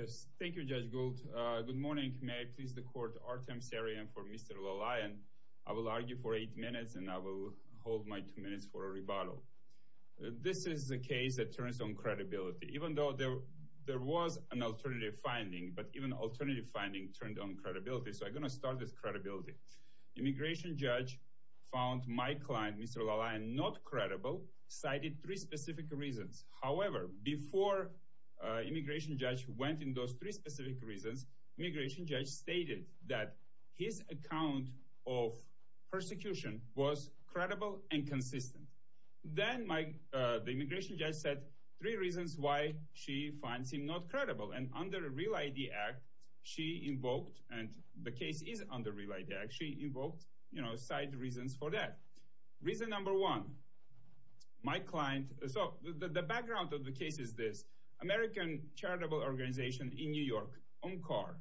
Yes, thank you Judge Gould. Good morning. May I please the court, Artem Sirayr for Mr. Lalayan. I will argue for eight minutes and I will hold my two minutes for a rebuttal. This is a case that turns on credibility. Even though there was an alternative finding, but even alternative finding turned on credibility. So I'm going to start with credibility. Immigration judge found my client, Mr. Lalayan, not credible, cited three specific reasons. However, before immigration judge went in those three specific reasons, immigration judge stated that his account of persecution was credible and consistent. Then the immigration judge said three reasons why she finds him not credible. And under Real ID Act, she invoked, and the case is under Real ID Act, she invoked, you know, cite reasons for that. Reason number one, my client, so the background of the case is this. American charitable organization in New York, UMCOR,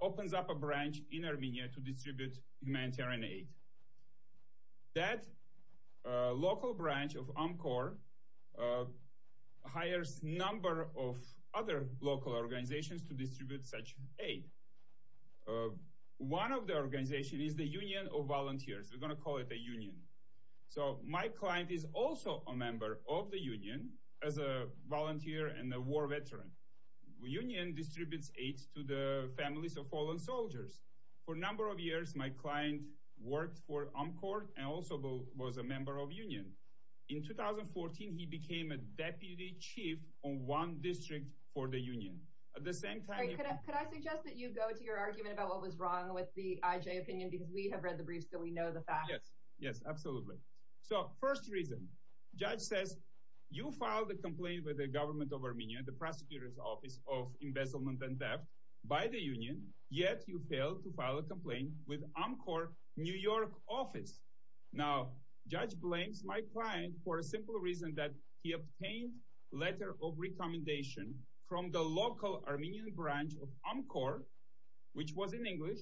opens up a branch in Armenia to distribute humanitarian aid. That local branch of UMCOR hires number of other local organizations to distribute such aid. One of the organization is the Union of Volunteers, we're going to call it a union. So my client is also a member of the union as a volunteer and a war veteran. The union distributes aids to the families of fallen soldiers. For a number of years, my client worked for UMCOR and also was a member of union. In 2014, he became a deputy chief on one district for the union. At the same time, could I suggest that you go to your argument about what was wrong with the IJ opinion, because we have read the briefs, do we know the facts? Yes, absolutely. So first reason, judge says, you filed a complaint with the government of Armenia, the prosecutor's office of embezzlement and theft by the union, yet you failed to file a complaint with UMCOR New York office. Now, judge blames my client for a simple reason that he obtained letter of recommendation from the local Armenian branch of UMCOR, which was in English,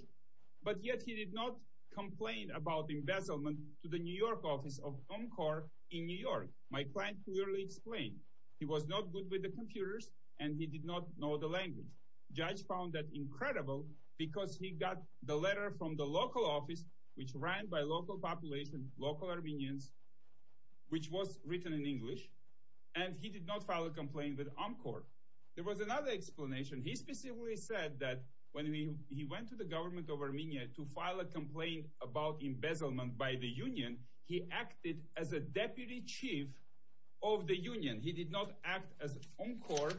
but yet he did not complain about embezzlement to the New York office of UMCOR in New York. My client clearly explained, he was not good with the computers, and he did not know the language. Judge found that incredible, because he got the letter from the local office, which ran by local population, local Armenians, which was written in English, and he did not file a complaint with UMCOR. There was another explanation. He specifically said that when he went to the government of Armenia to file a complaint about embezzlement by the union, he acted as a deputy chief of the union. He did not act as UMCOR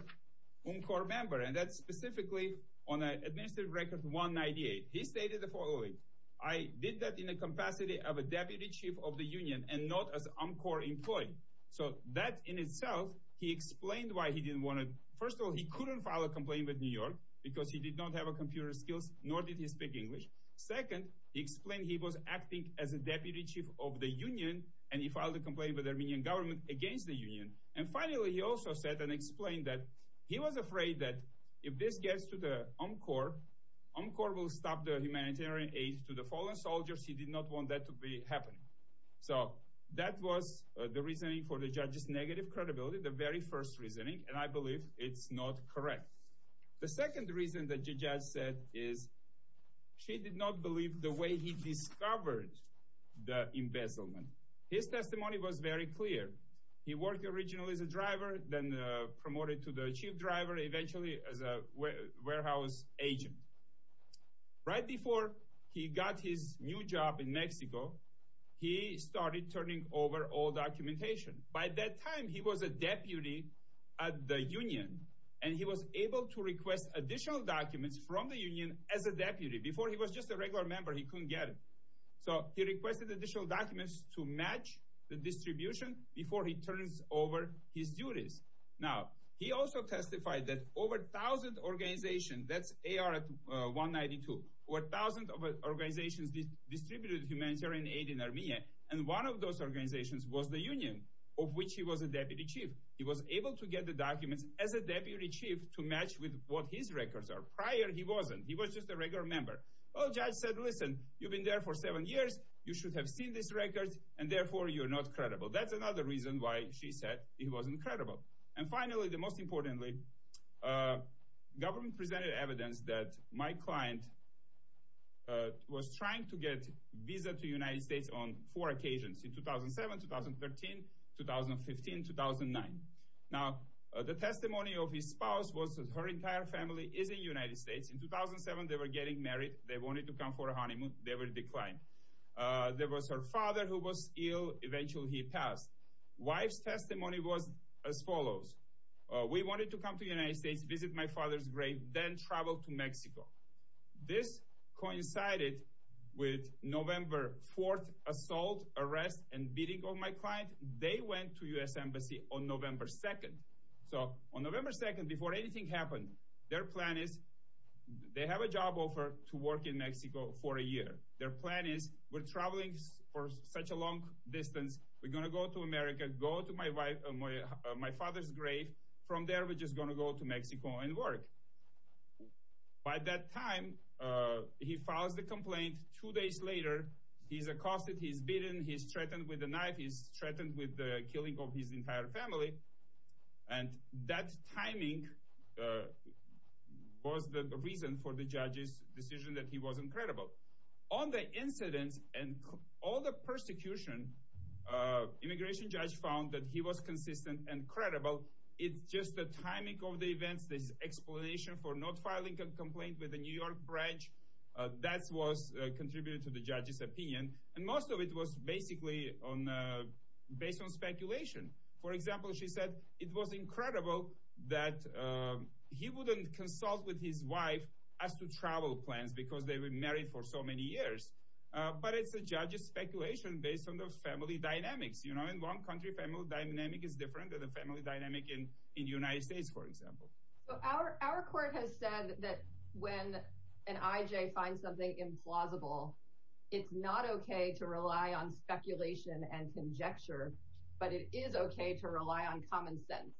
member, and that's specifically on administrative record 198. He stated the following, I did that in the capacity of a deputy chief of the union and not as UMCOR employee. So that in itself, he explained why he didn't want to, first of all, he couldn't file a complaint with New York, because he did not have computer skills, nor did he speak English. Second, he explained he was acting as a deputy chief of the union, and he filed a complaint with the Armenian government against the union. And finally, he also said and explained that he was afraid that if this gets to the UMCOR, UMCOR will stop the humanitarian aid to the fallen soldiers. He did not want that to be happening. So that was the reasoning for the judge's negative credibility, the very first reasoning, and I believe it's not correct. The second reason that judge said is she did not believe the way he discovered the embezzlement. His testimony was very clear. He worked originally as a driver, then promoted to the chief driver, eventually as a warehouse agent. Right before he got his new job in Mexico, he started turning over all documentation. By that time, he was a deputy at the union, and he was able to request additional documents from the union as a deputy. Before he was just a regular member, he couldn't get it. So he requested additional documents to match the distribution before he turns over his duties. Now, he also testified that over 1,000 organizations, that's AR-192, over 1,000 organizations distributed humanitarian aid in Armenia, and one of those organizations was the union of which he was a deputy chief. He was able to get the documents as a deputy chief to match with what his records are. Prior, he wasn't. He was just a regular member. Well, judge said, listen, you've been there for seven years, you should have seen these records, and therefore you're not credible. That's another reason why she said he wasn't credible. And finally, the most importantly, government presented evidence that my client was trying to get visa to United States on four occasions in 2007, 2013, 2015, 2009. Now, the testimony of his spouse was that her entire family is in United States. In 2007, they were getting married. They wanted to come for a honeymoon. They were declined. There was her father who was ill. Eventually, he passed. Wife's testimony was as follows. We wanted to come to United States, visit my father's grave, then travel to Mexico. This coincided with November 4th assault, arrest, and beating of my client. They went to U.S. Embassy on November 2nd. So on November 2nd, before anything happened, their plan is they have a job offer to work in Mexico for a year. Their plan is we're traveling for such a long distance. We're going to go to America, go to my father's Mexico, and work. By that time, he files the complaint. Two days later, he's accosted. He's beaten. He's threatened with a knife. He's threatened with the killing of his entire family. And that timing was the reason for the judge's decision that he wasn't credible. On the incidents and all the persecution, immigration judge found that he was consistent and credible. It's just the timing of the events, this explanation for not filing a complaint with the New York branch, that was contributed to the judge's opinion. And most of it was basically based on speculation. For example, she said it was incredible that he wouldn't consult with his wife as to travel plans because they were married for so many years. But it's a judge's speculation based on the family dynamics. You know, in one country, family dynamic is different than the family dynamic in the United States, for example. So our court has said that when an IJ finds something implausible, it's not okay to rely on speculation and conjecture. But it is okay to rely on common sense.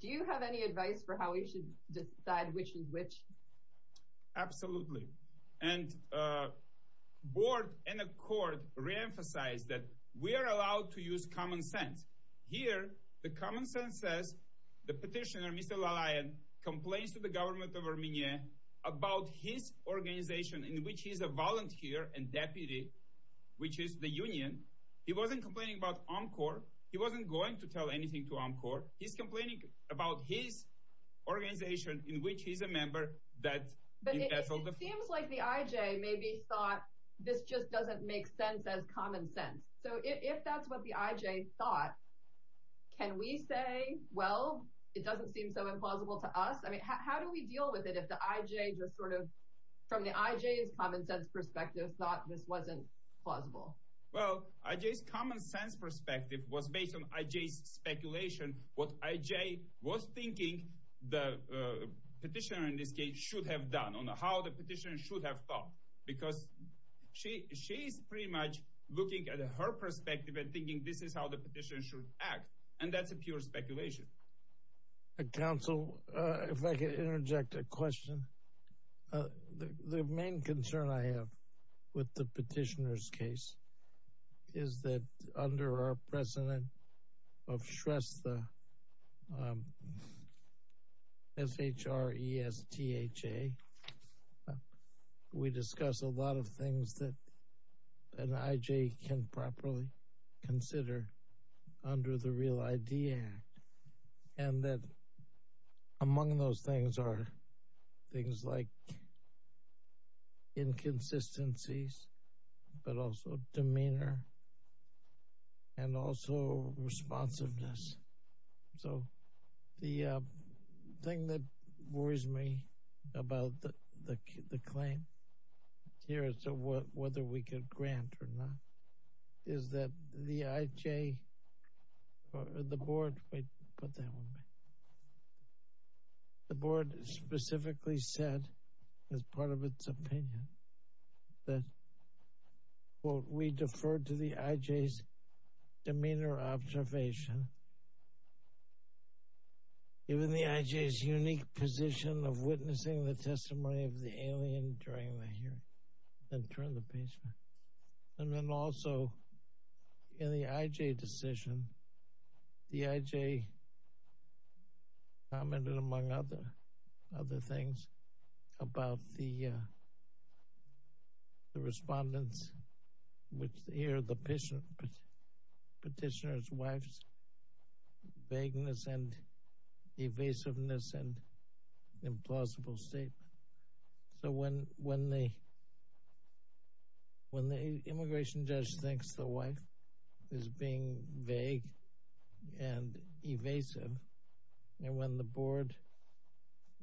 Do you have any advice for how we should decide which is which? Absolutely. And the board and the court reemphasized that we are allowed to use common sense. Here, the common sense says the petitioner, Mr. Lalayan, complains to the government of Armenia about his organization in which he's a volunteer and deputy, which is the union. He wasn't complaining about OMCOR. He wasn't going to tell anything to OMCOR. He's complaining about his organization in which he's a member that... But it seems like the IJ maybe thought this just doesn't make sense as common sense. So if that's what the IJ thought, can we say, well, it doesn't seem so implausible to us? I mean, how do we deal with it if the IJ just sort of, from the IJ's common sense perspective, thought this wasn't plausible? Well, IJ's common sense perspective was based on IJ's speculation, what IJ was thinking the petitioner in this case should have done, on how the petitioner should have thought. Because she is pretty much looking at her perspective and thinking this is how the petitioner should act. And that's a pure speculation. Counsel, if I could interject a question. The main concern I have with the petitioner's case is that an IJ can properly consider under the Real ID Act. And that among those things are things like inconsistencies, but also demeanor, and also responsiveness. So the thing that worries me about the claim here, whether we could grant or not, is that the IJ, or the board, wait, put that one back. The board specifically said, as part of its opinion, that, quote, we defer to the IJ's demeanor observation. Given the IJ's unique position of witnessing the testimony of the alien during the hearing, then turn the page. And then also, in the IJ decision, the IJ commented, among other things, about the respondents, which hear the petitioner's wife's vagueness and evasiveness and implausible statement. So when the immigration judge thinks the wife is being vague and evasive, and when the board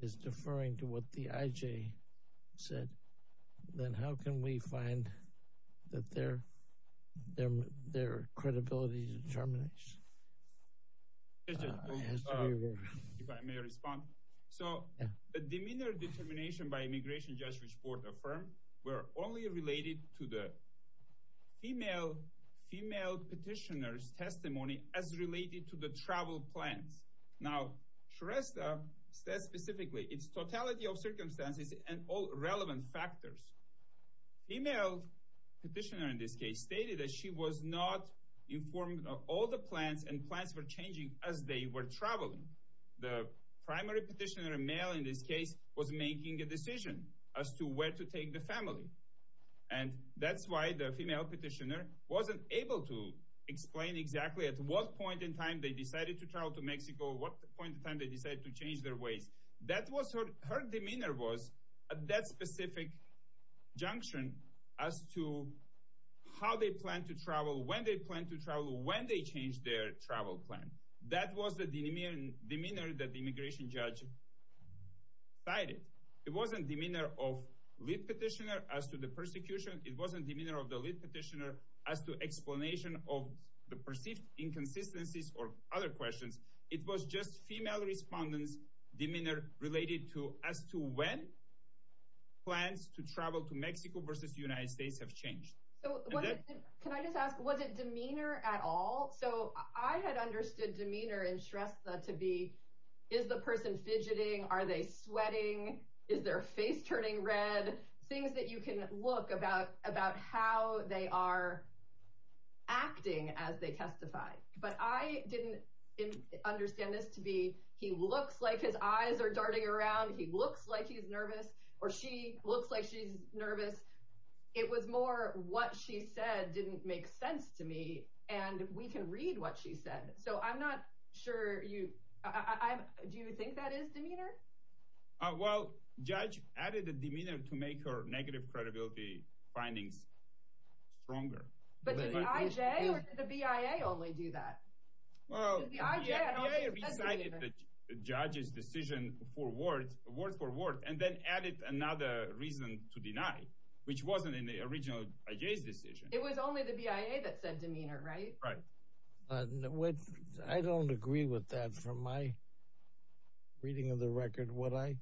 is deferring to what the IJ said, then how can we find that their credibility determination? If I may respond. So the demeanor determination by immigration judge, which the board affirmed, were only related to the female petitioner's testimony as related to the travel plans. Now, Shrestha says specifically, it's totality of circumstances and all relevant factors. Female petitioner, in this case, stated that she was not informed of all the plans and plans for changing as they were traveling. The primary petitioner, a male in this case, was making a decision as to where to take the family. And that's why the female petitioner wasn't able to explain exactly at what point in time they decided to travel to Mexico, what point in time they decided to change their ways. Her demeanor was at that specific junction as to how they plan to travel, when they plan to travel, when they change their travel plan. That was the demeanor that the immigration judge cited. It wasn't demeanor of lead petitioner as to the persecution. It wasn't demeanor of the lead petitioner as to respondents' demeanor related to as to when plans to travel to Mexico versus the United States have changed. So can I just ask, was it demeanor at all? So I had understood demeanor in Shrestha to be, is the person fidgeting? Are they sweating? Is their face turning red? Things that you can look about, about how they are acting as they testify. But I didn't understand this to be, he looks like his eyes are darting around. He looks like he's nervous, or she looks like she's nervous. It was more what she said didn't make sense to me. And we can read what she said. So I'm not sure you, I'm, do you think that is demeanor? Oh, well, judge added a demeanor to make her negative credibility findings stronger. But did the IJ or did the BIA only do that? Well, the IJ recited the judge's decision for words, word for word, and then added another reason to deny, which wasn't in the original IJ's decision. It was only the BIA that said demeanor, right? Right. Which I don't agree with that from my reading of the record. What I,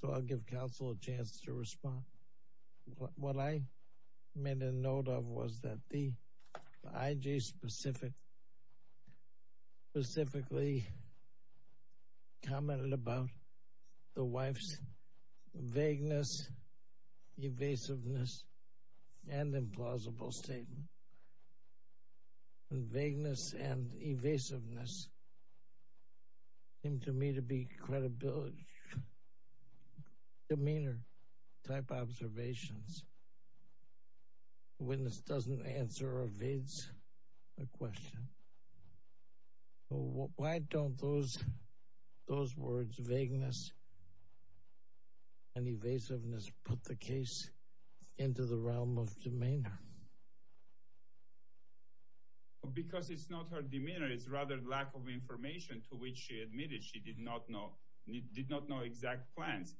so I'll give counsel a chance to respond. What I made a note of was that the IJ specific, specifically commented about the wife's vagueness, evasiveness, and implausible statement. And vagueness and evasiveness seem to me to be credibility, demeanor type observations. Witness doesn't answer or evades a question. Why don't those, those words vagueness and evasiveness put the case into the realm of demeanor? Because it's not her demeanor, it's rather lack of information to which she admitted she did not know, did not know exact plans.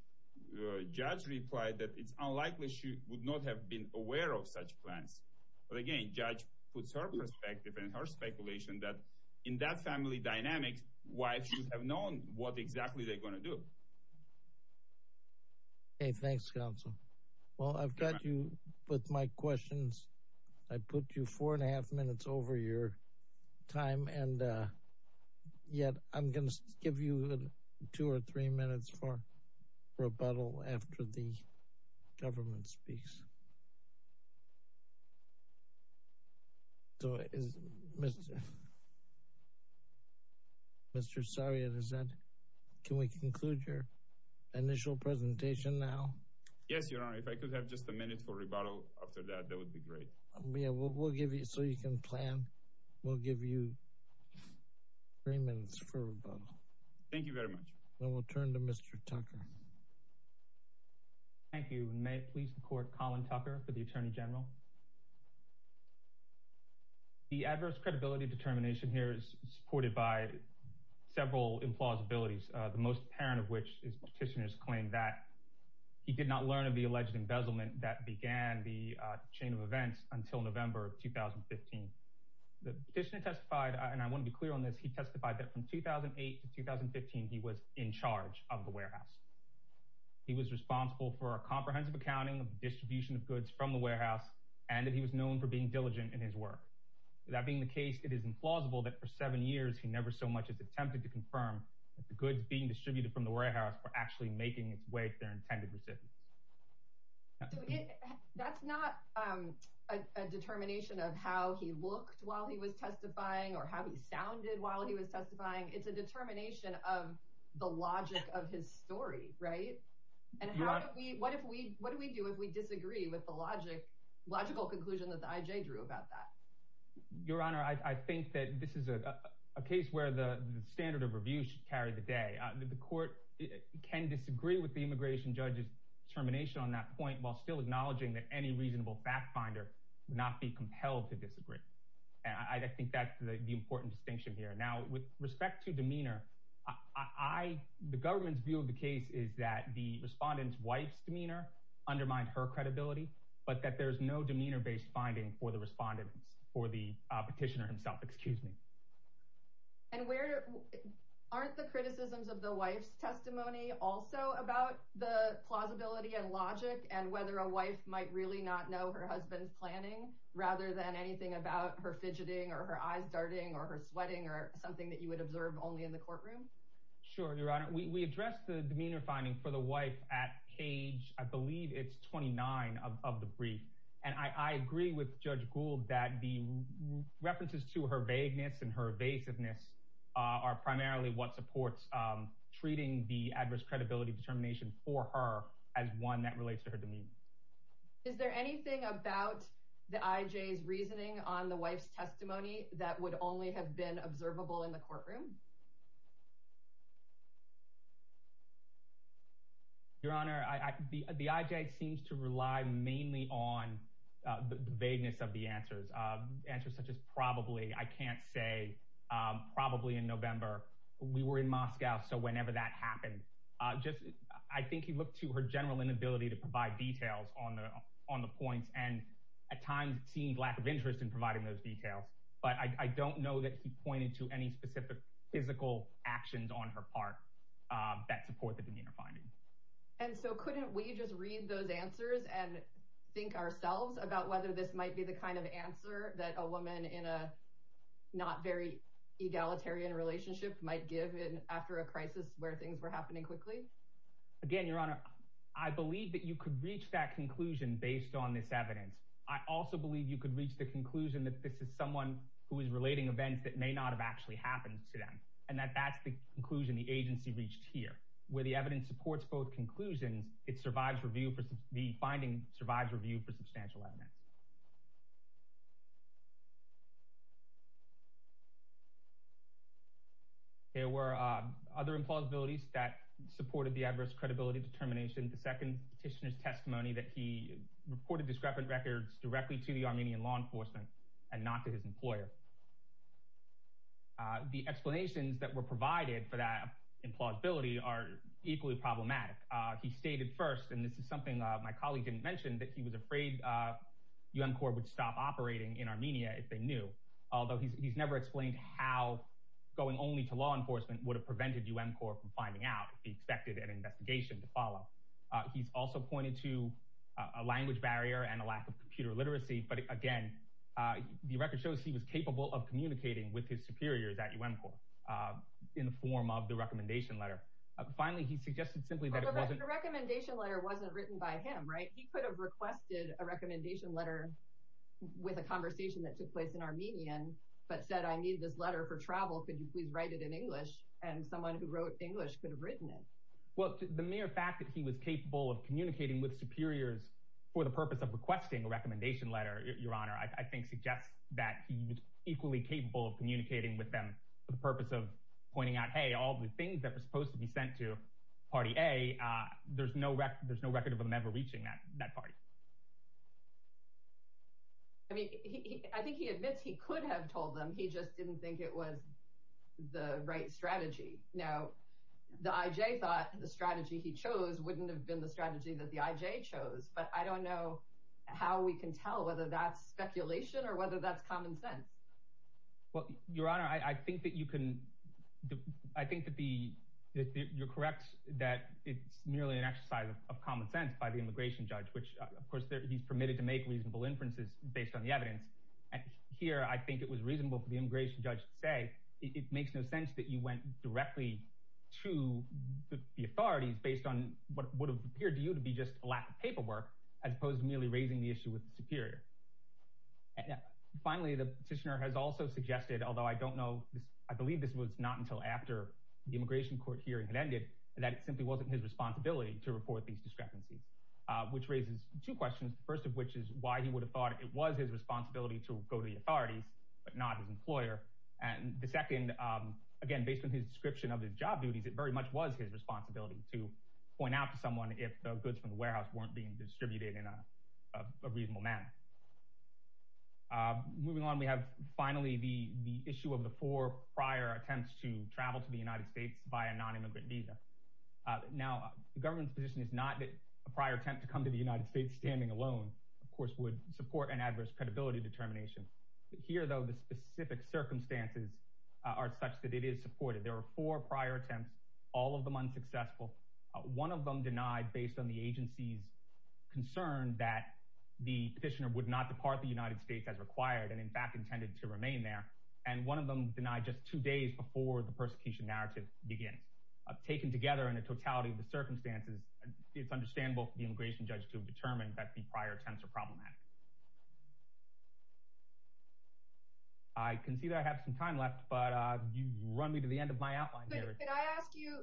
Judge replied that it's unlikely she would not have been aware of such plans. But again, judge puts her perspective and her speculation that in that family dynamics, wives should have known what exactly they're going to do. Hey, thanks, counsel. Well, I've got you with my questions. I put you four and a half minutes over your time, and yet I'm going to give you two or three minutes for rebuttal after the government speaks. So is Mr. Mr. Sarjan, is that, can we conclude your initial presentation now? Yes, Your Honor, if I could have just a minute for rebuttal after that, that would be great. Yeah, we'll give you so you can plan. We'll give you three minutes for rebuttal. Thank you very much. Then we'll turn to Mr. Tucker. Thank you. May it please the court, Colin Tucker for the Attorney General. The adverse credibility determination here is supported by several implausibilities, the most apparent of which is petitioners claim that he did not learn of the alleged embezzlement that began the chain of events until November of 2015. The petitioner testified, and I want to be clear on this, he testified that from 2008 to 2015, he was in charge of the warehouse. He was responsible for a comprehensive accounting of distribution of goods from the warehouse and that he was known for being diligent in his work. That being the case, it is implausible that for seven years, he never so much as attempted to confirm that the goods being distributed from the warehouse were actually making its way to their intended recipients. That's not a determination of how he looked while he was testifying or how he sounded while he was testifying. It's a determination of the logic of his story. Right. And what if we what do we do if we disagree with the logic, logical conclusion that the IJ drew about that? Your Honor, I think that this is a case where the standard of review should carry the day. The court can disagree with the immigration judge's determination on that point while still acknowledging that any reasonable fact finder would not be compelled to disagree. And I think that's the important distinction here. Now, with respect to demeanor, I the government's view of the case is that the respondent's wife's demeanor undermined her credibility, but that there is no demeanor based finding for the respondents or the petitioner himself. Excuse me. And where aren't the criticisms of the wife's testimony also about the plausibility and logic and whether a wife might really not know her husband's planning rather than anything about her fidgeting or her eyes darting or her sweating or something that you would observe only in the courtroom? Sure. Your Honor, we addressed the demeanor finding for the wife at page I believe it's twenty nine of the brief. And I agree with Judge Gould that the references to her vagueness and her evasiveness are primarily what supports treating the adverse credibility determination for her as one that relates to her demeanor. Is there anything about the IJ's reasoning on the wife's testimony that would only have been observable in the courtroom? Your Honor, the IJ seems to rely mainly on the vagueness of the answers, answers such as probably I can't say probably in November we were in Moscow. So whenever that happened, just I think he looked to her general inability to provide details on the on the points and at times seemed lack of interest in providing those details. But I don't know that he pointed to any specific physical actions on her part that support the demeanor finding. And so couldn't we just read those answers and think ourselves about whether this might be the kind of answer that a woman in a not very egalitarian relationship might give in after a crisis where things were happening quickly? Again, Your Honor, I believe that you could reach that conclusion based on this evidence. I also believe you could reach the conclusion that this is someone who is relating events that may not have actually happened to them. And that that's the conclusion the agency reached here where the evidence supports both conclusions. It survives review. The finding survives review for substantial evidence. There were other implausibilities that supported the adverse credibility determination. The second petitioner's testimony that he reported discrepant records directly to the Armenian law enforcement and not to his employer. The explanations that were provided for that implausibility are equally problematic. He stated first, and this is something my colleague didn't mention, that he was afraid U.N. Corps would stop operating in Armenia if they knew, although he's never explained how going only to law enforcement would have prevented U.N. Corps from finding out if he expected an investigation to follow. He's also pointed to a language barrier and a lack of computer literacy. But again, the record shows he was capable of communicating with his superiors at U.N. Corps in the form of the recommendation letter. Finally, he suggested simply that the recommendation letter wasn't written by him. Right. He could have requested a recommendation letter with a conversation that took place in Armenian, but said, I need this letter for travel. Could you please write it in English? And someone who wrote English could have written it. Well, the mere fact that he was capable of communicating with superiors for the purpose of requesting a recommendation letter, your honor, I think suggests that he was equally capable of communicating with them for the purpose of pointing out, hey, all the things that were supposed to be sent to Party A, there's no there's no record of them ever reaching that that party. I mean, I think he admits he could have told them he just didn't think it was the right strategy. Now, the IJ thought the strategy he chose wouldn't have been the strategy that the IJ chose. But I don't know how we can tell whether that's speculation or whether that's common sense. Well, your honor, I think that you can I think that the you're correct that it's merely an exercise of common sense by the immigration judge, which, of course, he's permitted to make reasonable inferences based on the evidence. Here, I think it was reasonable for the immigration judge to say it makes no sense that you went directly to the authorities based on what would have appeared to you to be just a lack of paperwork as opposed to merely raising the issue with the superior. Finally, the petitioner has also suggested, although I don't know, I believe this was not until after the immigration court hearing had ended that it simply wasn't his responsibility to report these discrepancies, which raises two questions. The first of which is why he would have thought it was his responsibility to go to the authorities, but not his employer. And the second, again, based on his description of his job duties, it very much was his responsibility to point out to someone if the goods from the warehouse weren't being distributed in a reasonable manner. Moving on, we have finally the the issue of the four prior attempts to travel to the United States by a nonimmigrant visa. Now, the government's position is not that a prior attempt to come to the United States standing alone, of course, would support an adverse credibility determination. Here, though, the specific circumstances are such that it is supported. There were four prior attempts, all of them unsuccessful. One of them denied based on the agency's concern that the petitioner would not depart the United States as required and in fact intended to remain there. And one of them denied just two days before the persecution narrative begins. Taken together in a totality of the circumstances, it's understandable for the immigration judge to determine that the prior attempts are problematic. I can see that I have some time left, but you run me to the end of my outline here. Can I ask you,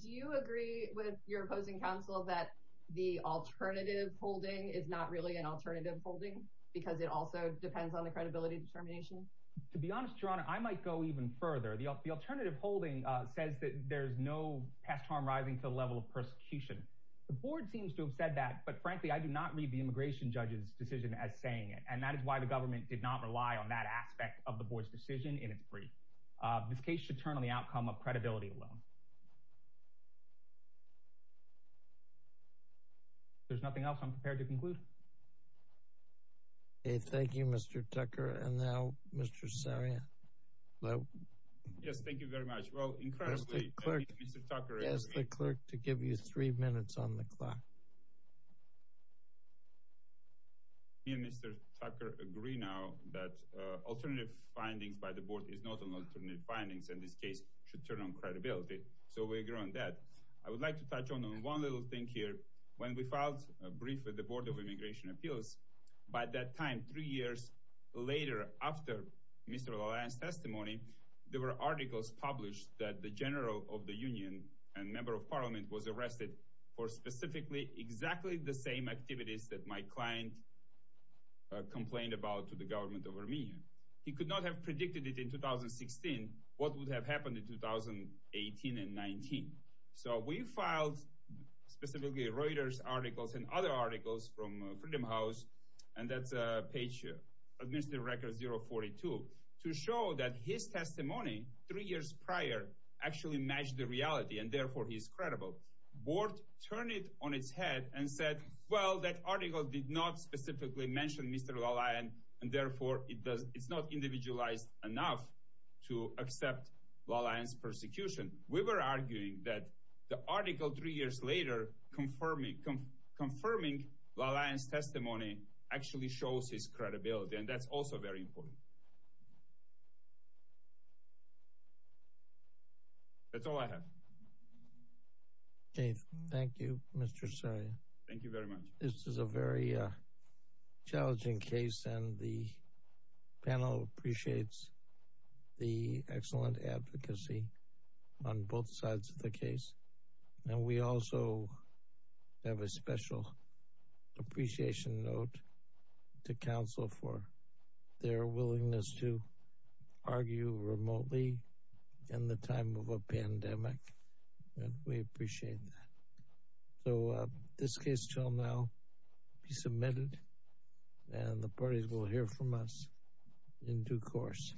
do you agree with your opposing counsel that the alternative holding is not really an alternative holding because it also depends on the credibility determination? To be honest, your honor, I might go even further. The alternative holding says that there's no past harm rising to the level of persecution. The board seems to have said that. But frankly, I do not read the immigration judge's decision as saying it. And that is why the government did not rely on that aspect of the board's decision in its brief. This case should turn on the outcome of credibility alone. There's nothing else I'm prepared to conclude. Thank you, Mr. Tucker. And now, Mr. Saria. Yes, thank you very much. Well, incredibly, Mr. Tucker, as the clerk to give you three minutes on the clock. Mr. Tucker agree now that alternative findings by the board is not an alternative findings in this case should turn on credibility. So we agree on that. I would like to touch on one little thing here. When we filed a brief with the Board of Immigration Appeals, by that time, three years later, after Mr. LaLanne's testimony, there were articles published that the general of the union and member of parliament was arrested for specifically exactly the same activities that my client complained about to the government of Armenia. He could not have predicted it in 2016. What would have happened in 2018 and 19? So we filed specifically Reuters articles and other articles from Freedom House. And that's a page of Mr. Record 042 to show that his testimony three years prior actually matched the reality. And therefore, he is credible. Board turn it on its head and said, well, that article did not specifically mention Mr. LaLanne. And therefore, it does. It's not individualized enough to accept LaLanne's persecution. We were arguing that the article three years later confirming confirming LaLanne's testimony actually shows his credibility. And that's also very important. That's all I have. Thank you, Mr. Sir. Thank you very much. This is a very challenging case and the panel appreciates the excellent advocacy. On both sides of the case. And we also have a special appreciation note to counsel for their willingness to argue remotely in the time of a pandemic. And we appreciate that. So this case shall now be submitted and the parties will hear from us in due course.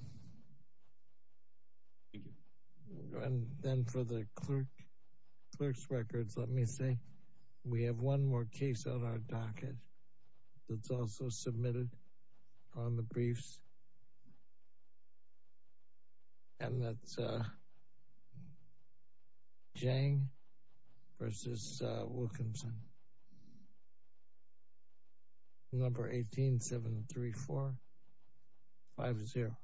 And then for the clerk, clerk's records, let me say we have one more case on our docket that's also submitted on the briefs. And that's Jang versus Wilkinson. Number 18, 7, 3, 4, 5, 0.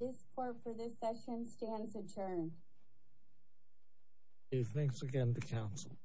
This court for this session stands adjourned. Thanks again to counsel.